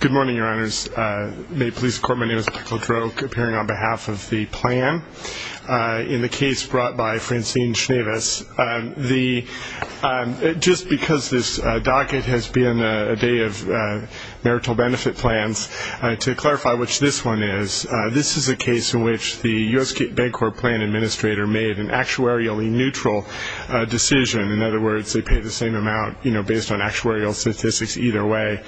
Good morning, your honors. May it please the court, my name is Michael Droke, appearing on behalf of the plan in the case brought by Francine Schneves. Just because this docket has been a day of marital benefit plans, to clarify which this one is, this is a case in which the U.S. Bancorp plan administrator made an actuarially neutral decision. In other words, they paid the same amount, you know, based on actuarial statistics either way,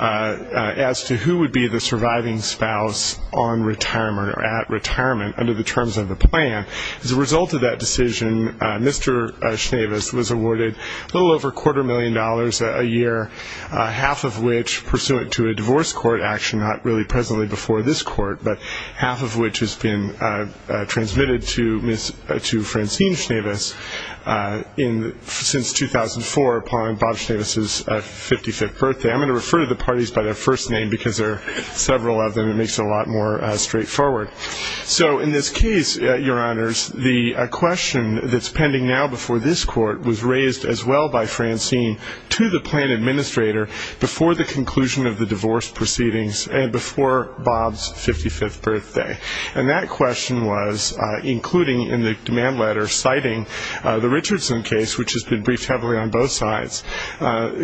as to who would be the surviving spouse on retirement or at retirement under the terms of the plan. As a result of that decision, Mr. Schneves was awarded a little over a quarter million dollars a year, half of which pursuant to a divorce court action, not really presently before this court, but half of which has been transmitted to Francine Schneves since 2004 upon Bob Schneves' 55th birthday. I'm going to refer to the parties by their first name because there are several of them. It makes it a lot more straightforward. So in this case, your honors, the question that's pending now before this court was raised as well by Francine to the plan administrator before the conclusion of the divorce proceedings and before Bob's 55th birthday. And that question was, including in the demand letter citing the Richardson case, which has been briefed heavily on both sides,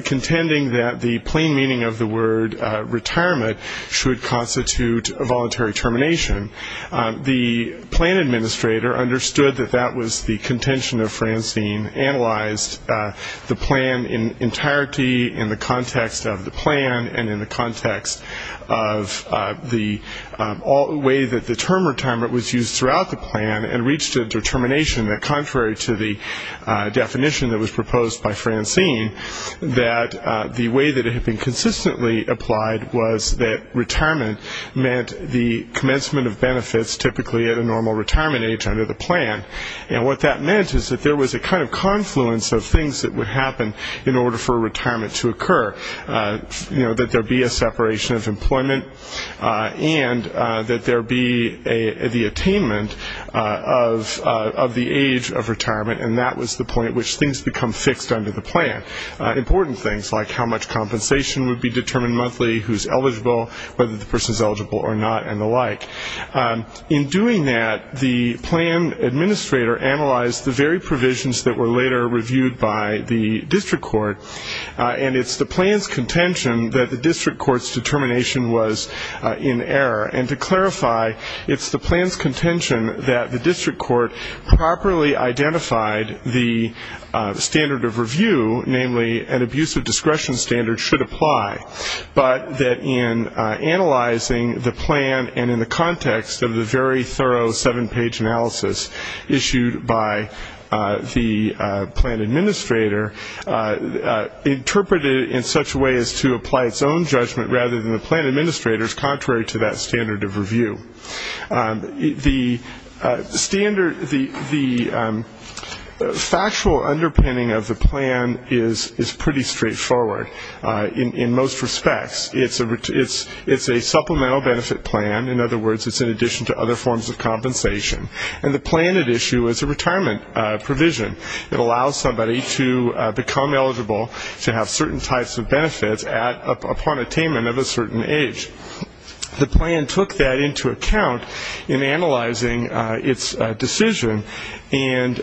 contending that the plain meaning of the word retirement should constitute a voluntary termination. The plan administrator understood that that was the contention of Francine, analyzed the plan in entirety in the context of the plan and in the context of the way that the term retirement was used throughout the plan, and reached a determination that contrary to the definition that was proposed by Francine, that the way that it had been consistently applied was that retirement meant the commencement of benefits, typically at a normal retirement age under the plan. And what that meant is that there was a kind of confluence of things that would happen in order for retirement to occur, that there be a separation of employment and that there be the attainment of the age of retirement, and that was the point at which things become fixed under the plan. Important things like how much compensation would be determined monthly, who's eligible, whether the person's eligible or not, and the like. In doing that, the plan administrator analyzed the very provisions that were later reviewed by the district court, and it's the plan's contention that the district court's determination was in error. And to clarify, it's the plan's contention that the district court properly identified the standard of review, namely an abusive discretion standard should apply, but that in analyzing the plan and in the context of the very thorough seven-page analysis issued by the plan administrator, interpreted it in such a way as to apply its own judgment rather than the plan administrator's, contrary to that standard of review. The factual underpinning of the plan is pretty straightforward. In most respects, it's a supplemental benefit plan. In other words, it's in addition to other forms of compensation. And the plan at issue is a retirement provision. It allows somebody to become eligible to have certain types of benefits upon attainment of a certain age. The plan took that into account in analyzing its decision and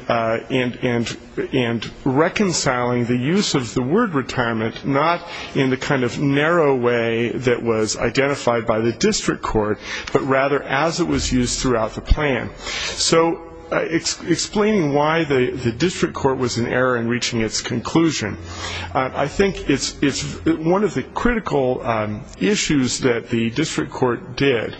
reconciling the use of the word retirement not in the kind of narrow way that was identified by the district court, but rather as it was used throughout the plan. So explaining why the district court was in error in reaching its conclusion, I think it's one of the critical issues that the district court did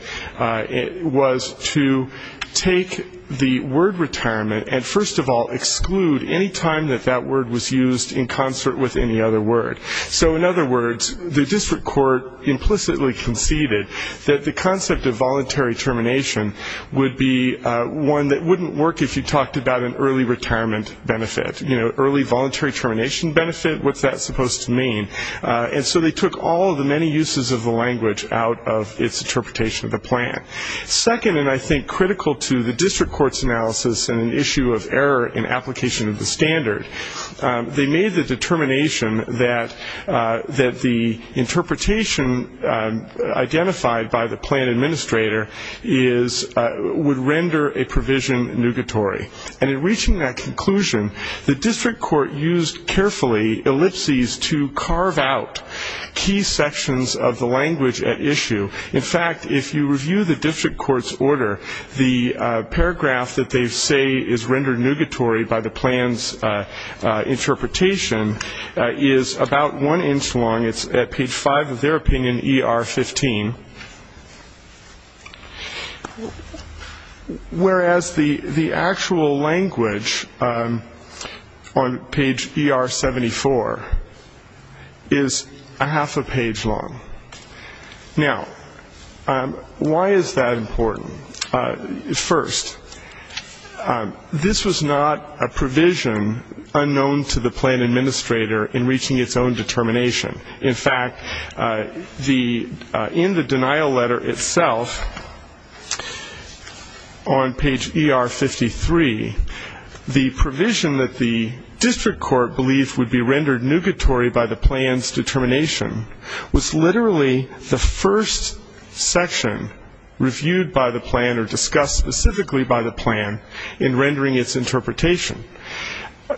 was to take the word retirement and, first of all, exclude any time that that word was used in concert with any other word. So, in other words, the district court implicitly conceded that the concept of voluntary termination would be one that wouldn't work if you talked about an early retirement benefit. You know, early voluntary termination benefit, what's that supposed to mean? And so they took all of the many uses of the language out of its interpretation of the plan. Second, and I think critical to the district court's analysis in an issue of error in application of the standard, they made the determination that the interpretation identified by the plan administrator would render a provision nugatory. And in reaching that conclusion, the district court used carefully ellipses to carve out key sections of the language at issue. In fact, if you review the district court's order, the paragraph that they say is rendered nugatory by the plan's interpretation is about one inch long. It's at page five of their opinion, ER 15. Whereas the actual language on page ER 74 is a half a page long. Now, why is that important? First, this was not a provision unknown to the plan administrator in reaching its own determination. In fact, in the denial letter itself on page ER 53, the provision that the district court believed would be rendered nugatory by the plan's determination was literally the first section reviewed by the plan or discussed specifically by the plan in rendering its interpretation.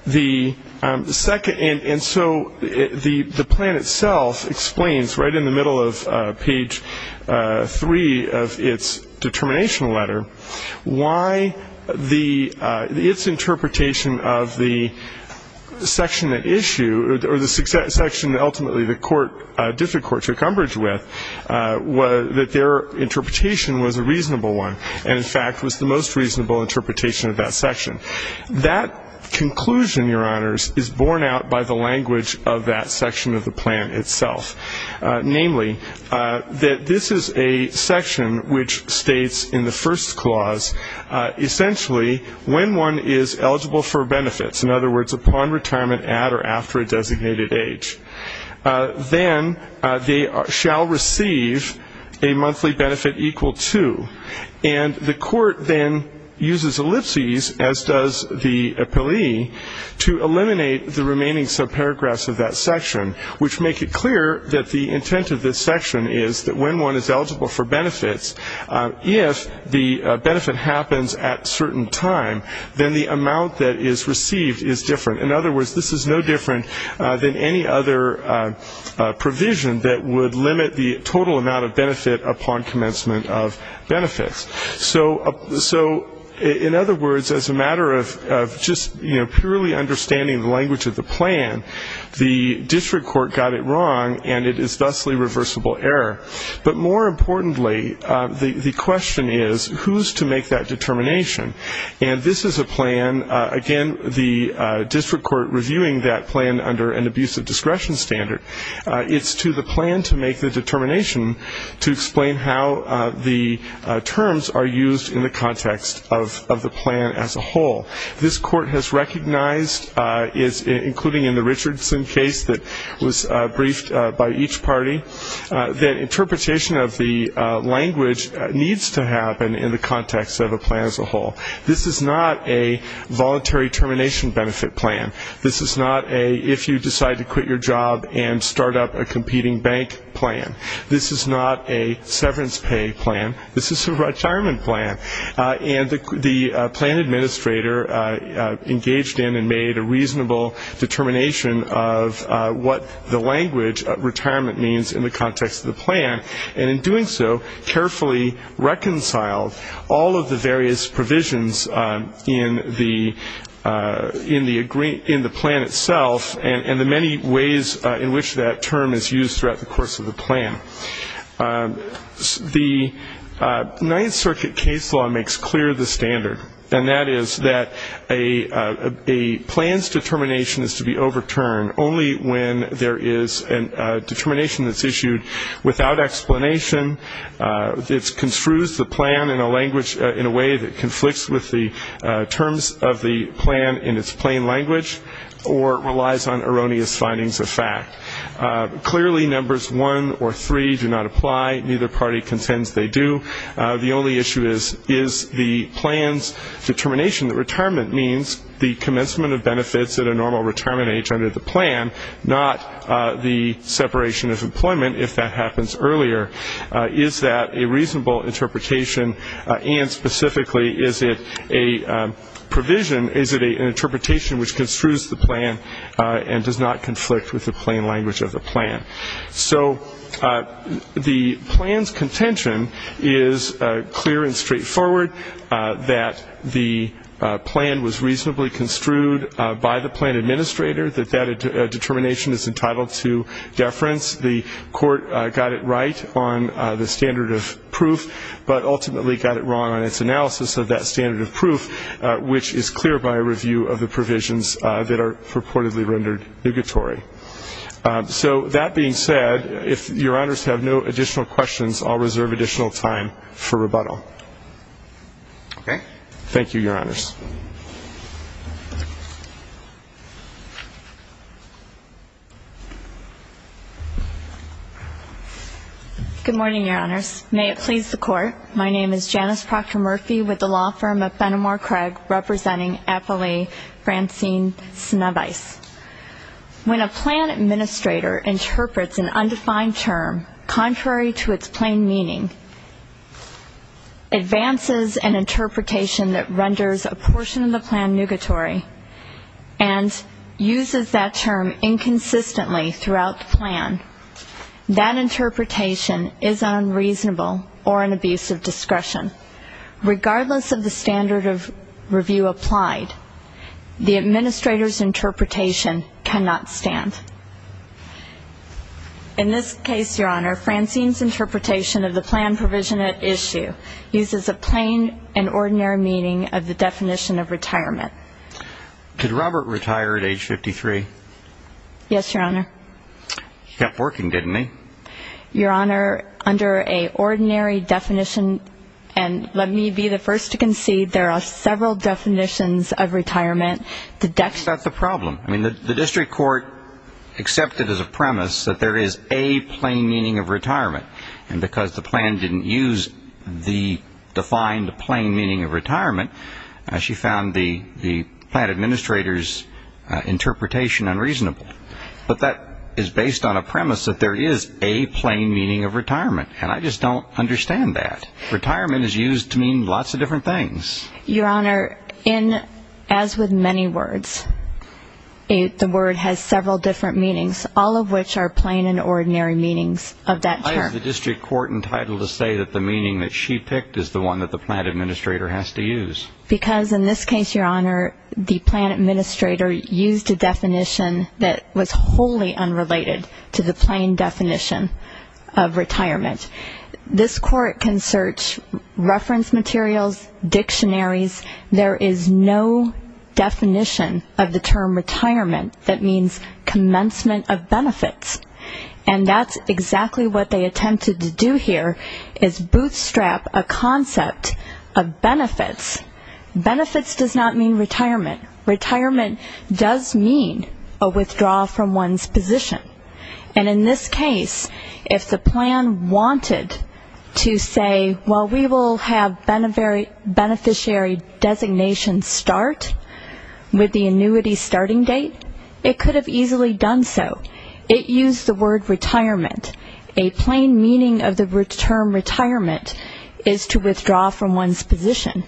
And so the plan itself explains right in the middle of page three of its determination letter why its interpretation of the section at issue, or the section ultimately the district court took umbrage with, that their interpretation was a reasonable one, and in fact was the most reasonable interpretation of that section. That conclusion, Your Honors, is borne out by the language of that section of the plan itself. Namely, that this is a section which states in the first clause, essentially when one is eligible for benefits, in other words, upon retirement at or after a designated age, then they shall receive a monthly benefit equal to. And the court then uses ellipses, as does the appellee, to eliminate the remaining subparagraphs of that section, which make it clear that the intent of this section is that when one is eligible for benefits, if the benefit happens at a certain time, then the amount that is received is different. In other words, this is no different than any other provision that would limit the total amount of benefit upon commencement of benefits. So in other words, as a matter of just purely understanding the language of the plan, the district court got it wrong, and it is thusly reversible error. But more importantly, the question is, who's to make that determination? And this is a plan, again, the district court reviewing that plan under an abusive discretion standard. It's to the plan to make the determination to explain how the terms are used in the context of the plan as a whole. This court has recognized, including in the Richardson case that was briefed by each party, that interpretation of the language needs to happen in the context of a plan as a whole. This is not a voluntary termination benefit plan. This is not a if-you-decide-to-quit-your-job-and-start-up-a-competing-bank plan. This is not a severance pay plan. This is a retirement plan. And the plan administrator engaged in and made a reasonable determination of what the language of retirement means in the context of the plan, and in doing so carefully reconciled all of the various provisions in the plan itself and the many ways in which that term is used throughout the course of the plan. The Ninth Circuit case law makes clear the standard, and that is that a plan's determination is to be overturned only when there is a determination that's issued without explanation that construes the plan in a way that conflicts with the terms of the plan in its plain language or relies on erroneous findings of fact. Clearly, numbers one or three do not apply. Neither party contends they do. The only issue is the plan's determination that retirement means the commencement of benefits at a normal retirement age under the plan, not the separation of employment if that happens earlier. Is that a reasonable interpretation? And specifically, is it an interpretation which construes the plan and does not conflict with the plain language of the plan? So the plan's contention is clear and straightforward, that the plan was reasonably construed by the plan administrator, that that determination is entitled to deference. The court got it right on the standard of proof but ultimately got it wrong on its analysis of that standard of proof, which is clear by a review of the provisions that are purportedly rendered negatory. So that being said, if Your Honors have no additional questions, I'll reserve additional time for rebuttal. Okay. Thank you, Your Honors. Good morning, Your Honors. May it please the Court, my name is Janice Proctor-Murphy with the law firm of Benamor-Craig, representing appellee Francine Snavice. When a plan administrator interprets an undefined term contrary to its plain meaning, advances an interpretation that renders a portion of the plan negatory and uses that term inconsistently throughout the plan, that interpretation is unreasonable or an abuse of discretion. Regardless of the standard of review applied, the administrator's interpretation cannot stand. In this case, Your Honor, Francine's interpretation of the plan provision at issue uses a plain and ordinary meaning of the definition of retirement. Did Robert retire at age 53? Yes, Your Honor. He kept working, didn't he? Your Honor, under an ordinary definition, and let me be the first to concede, there are several definitions of retirement. That's the problem. I mean, the district court accepted as a premise that there is a plain meaning of retirement, and because the plan didn't use the defined plain meaning of retirement, she found the plan administrator's interpretation unreasonable. But that is based on a premise that there is a plain meaning of retirement, and I just don't understand that. Retirement is used to mean lots of different things. Your Honor, as with many words, the word has several different meanings, all of which are plain and ordinary meanings of that term. Why is the district court entitled to say that the meaning that she picked is the one that the plan administrator has to use? Because in this case, Your Honor, the plan administrator used a definition that was wholly unrelated to the plain definition of retirement. This court can search reference materials, dictionaries. There is no definition of the term retirement that means commencement of benefits, and that's exactly what they attempted to do here is bootstrap a concept of benefits. Benefits does not mean retirement. Retirement does mean a withdrawal from one's position. And in this case, if the plan wanted to say, well, we will have beneficiary designation start with the annuity starting date, it could have easily done so. It used the word retirement. A plain meaning of the term retirement is to withdraw from one's position.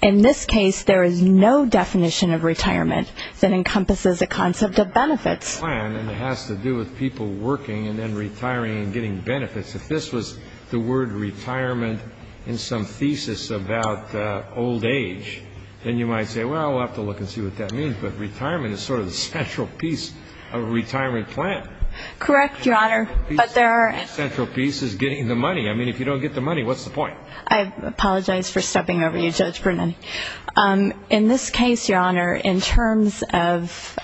In this case, there is no definition of retirement that encompasses a concept of benefits. And it has to do with people working and then retiring and getting benefits. If this was the word retirement in some thesis about old age, then you might say, well, we'll have to look and see what that means. But retirement is sort of the central piece of a retirement plan. Correct, Your Honor. The central piece is getting the money. I mean, if you don't get the money, what's the point? I apologize for stepping over you, Judge Brennan. In this case, Your Honor, in terms of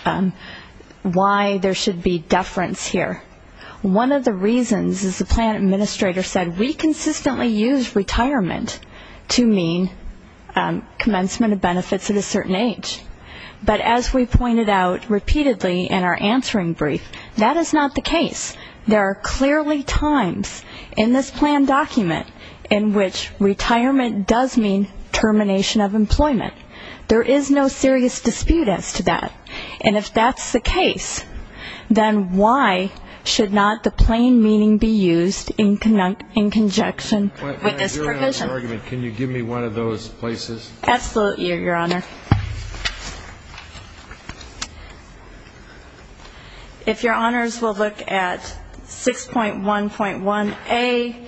why there should be deference here, one of the reasons is the plan administrator said, we consistently use retirement to mean commencement of benefits at a certain age. But as we pointed out repeatedly in our answering brief, that is not the case. There are clearly times in this plan document in which retirement does mean termination of employment. There is no serious dispute as to that. And if that's the case, then why should not the plain meaning be used in conjunction with this provision? Can you give me one of those places? Absolutely, Your Honor. If Your Honors will look at 6.1.1A,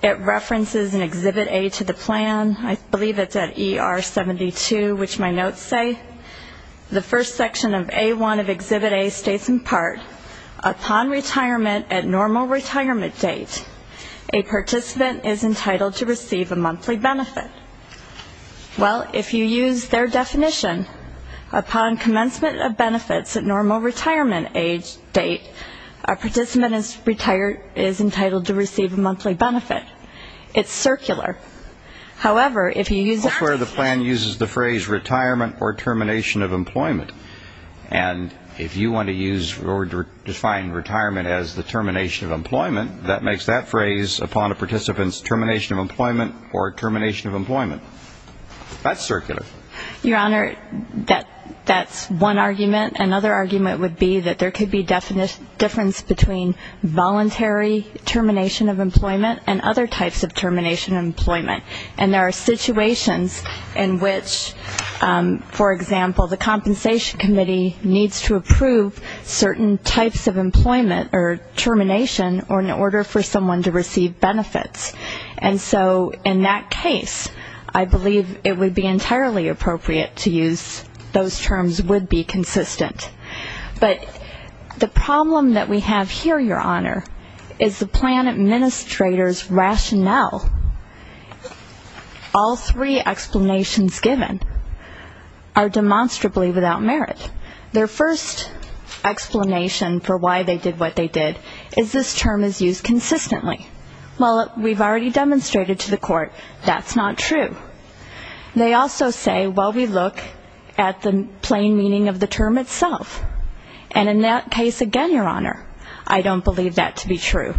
it references in Exhibit A to the plan. I believe it's at ER 72, which my notes say, the first section of A1 of Exhibit A states in part, upon retirement at normal retirement date, a participant is entitled to receive a monthly benefit. Well, if you use their definition, upon commencement of benefits at normal retirement age date, a participant is entitled to receive a monthly benefit. It's circular. However, if you use that definition. That's where the plan uses the phrase retirement or termination of employment. And if you want to use or define retirement as the termination of employment, that makes that phrase upon a participant's termination of employment or termination of employment. That's circular. Your Honor, that's one argument. Another argument would be that there could be a difference between voluntary termination of employment and other types of termination of employment. And there are situations in which, for example, the compensation committee needs to approve certain types of employment or termination in order for someone to receive benefits. And so in that case, I believe it would be entirely appropriate to use those terms would be consistent. But the problem that we have here, Your Honor, is the plan administrator's rationale. All three explanations given are demonstrably without merit. Their first explanation for why they did what they did is this term is used consistently. Well, we've already demonstrated to the court that's not true. They also say, well, we look at the plain meaning of the term itself. And in that case, again, Your Honor, I don't believe that to be true.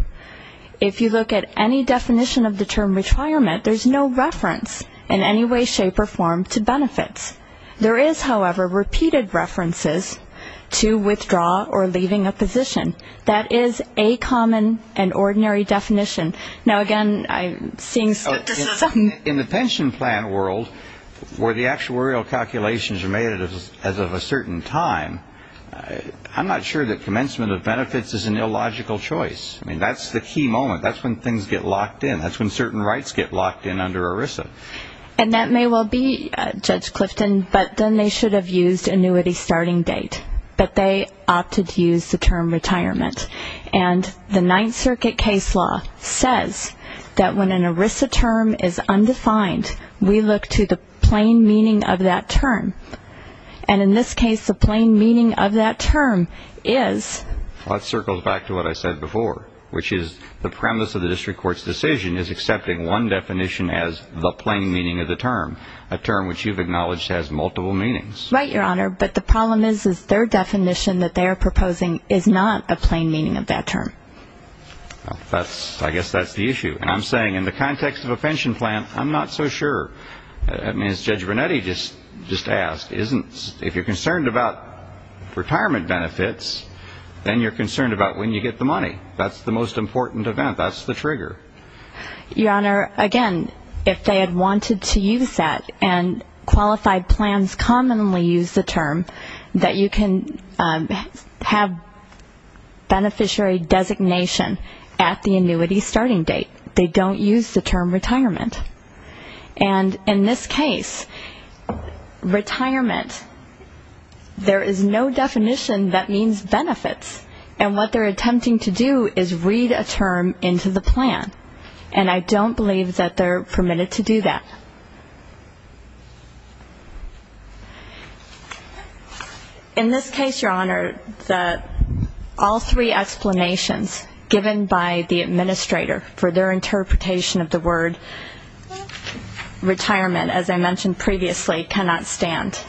If you look at any definition of the term retirement, there's no reference in any way, shape, or form to benefits. There is, however, repeated references to withdraw or leaving a position. That is a common and ordinary definition. Now, again, I'm seeing skepticism. In the pension plan world, where the actuarial calculations are made as of a certain time, I'm not sure that commencement of benefits is an illogical choice. I mean, that's the key moment. That's when things get locked in. That's when certain rights get locked in under ERISA. And that may well be, Judge Clifton, but then they should have used annuity starting date. But they opted to use the term retirement. And the Ninth Circuit case law says that when an ERISA term is undefined, we look to the plain meaning of that term. And in this case, the plain meaning of that term is? Well, that circles back to what I said before, which is the premise of the district court's decision is accepting one definition as the plain meaning of the term, a term which you've acknowledged has multiple meanings. Right, Your Honor. But the problem is their definition that they are proposing is not a plain meaning of that term. I guess that's the issue. And I'm saying in the context of a pension plan, I'm not so sure. I mean, as Judge Brunetti just asked, if you're concerned about retirement benefits, then you're concerned about when you get the money. That's the trigger. Your Honor, again, if they had wanted to use that, and qualified plans commonly use the term that you can have beneficiary designation at the annuity starting date. They don't use the term retirement. And in this case, retirement, there is no definition that means benefits. And what they're attempting to do is read a term into the plan. And I don't believe that they're permitted to do that. In this case, Your Honor, all three explanations given by the administrator for their interpretation of the word retirement, as I mentioned previously, cannot stand.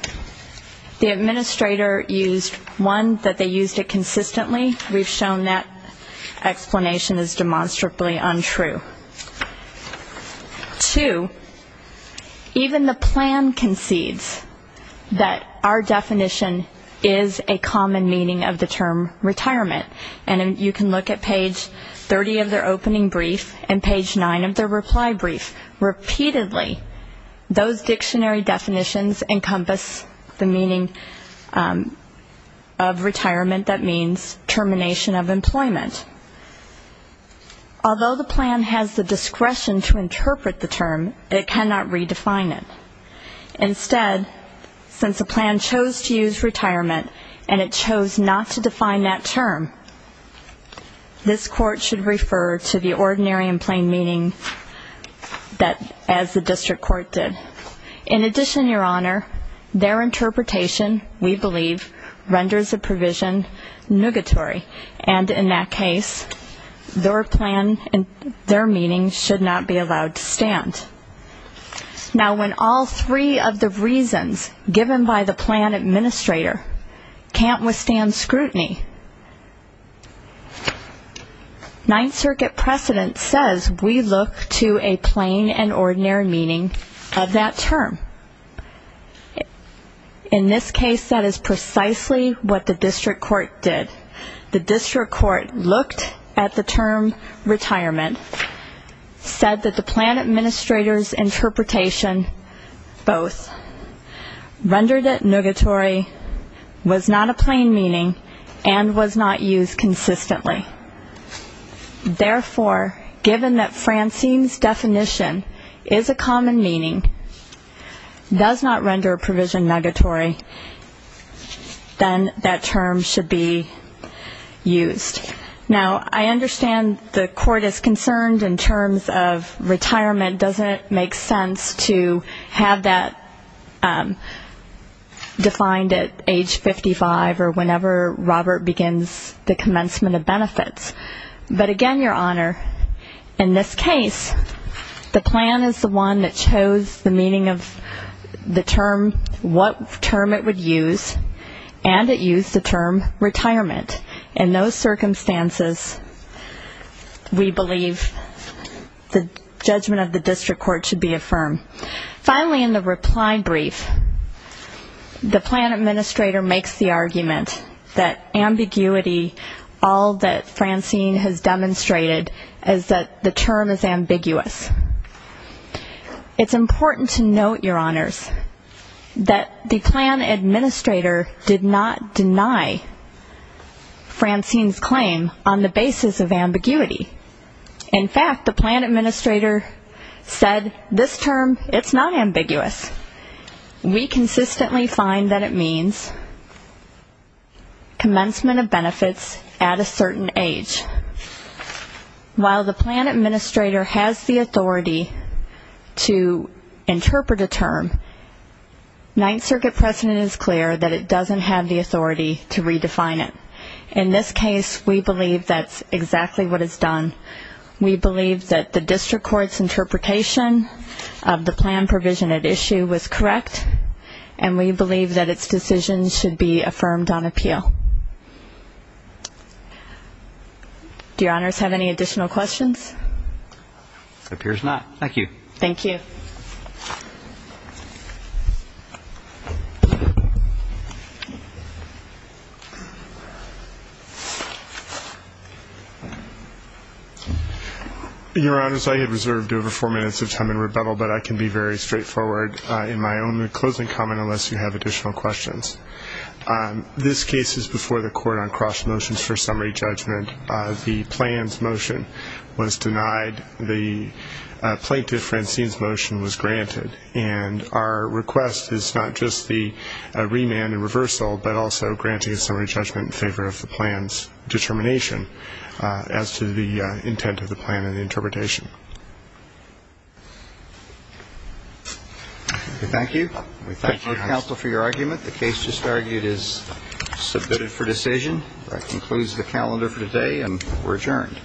The administrator used, one, that they used it consistently. We've shown that explanation is demonstrably untrue. Two, even the plan concedes that our definition is a common meaning of the term retirement. And you can look at page 30 of their opening brief and page 9 of their reply brief. Repeatedly, those dictionary definitions encompass the meaning of retirement that means termination of employment. Although the plan has the discretion to interpret the term, it cannot redefine it. Instead, since the plan chose to use retirement, and it chose not to define that term, this court should refer to the ordinary and plain meaning as the district court did. In addition, Your Honor, their interpretation, we believe, renders the provision nugatory. And in that case, their plan and their meaning should not be allowed to stand. Now, when all three of the reasons given by the plan administrator can't withstand scrutiny, Ninth Circuit precedent says we look to a plain and ordinary meaning of that term. In this case, that is precisely what the district court did. The district court looked at the term retirement, said that the plan administrator's interpretation both rendered it nugatory, was not a plain meaning, and was not used consistently. Therefore, given that Francine's definition is a common meaning, does not render a provision nugatory, then that term should be used. Now, I understand the court is concerned in terms of retirement doesn't make sense to have that defined at age 55 or whenever Robert begins the commencement of benefits. But again, Your Honor, in this case, the plan is the one that chose the meaning of the term, what term it would use, and it used the term retirement. In those circumstances, we believe the judgment of the district court should be affirmed. Finally, in the reply brief, the plan administrator makes the argument that ambiguity, all that Francine has demonstrated, is that the term is ambiguous. It's important to note, Your Honors, that the plan administrator did not deny Francine's claim on the basis of ambiguity. In fact, the plan administrator said this term, it's not ambiguous. We consistently find that it means commencement of benefits at a certain age. While the plan administrator has the authority to interpret a term, Ninth Circuit precedent is clear that it doesn't have the authority to redefine it. In this case, we believe that's exactly what is done. We believe that the district court's interpretation of the plan provision at issue was correct, and we believe that its decision should be affirmed on appeal. Do Your Honors have any additional questions? It appears not. Thank you. Thank you. Your Honors, I have reserved over four minutes of time in rebuttal, but I can be very straightforward in my own closing comment unless you have additional questions. This case is before the court on cross motions for summary judgment. The plan's motion was denied. The plaintiff, Francine's motion was granted. And our request is not just the remand and reversal, but also granting a summary judgment in favor of the plan's determination as to the intent of the plan and the interpretation. Thank you. We thank both counsel for your argument. The case just argued is submitted for decision. That concludes the calendar for today, and we're adjourned.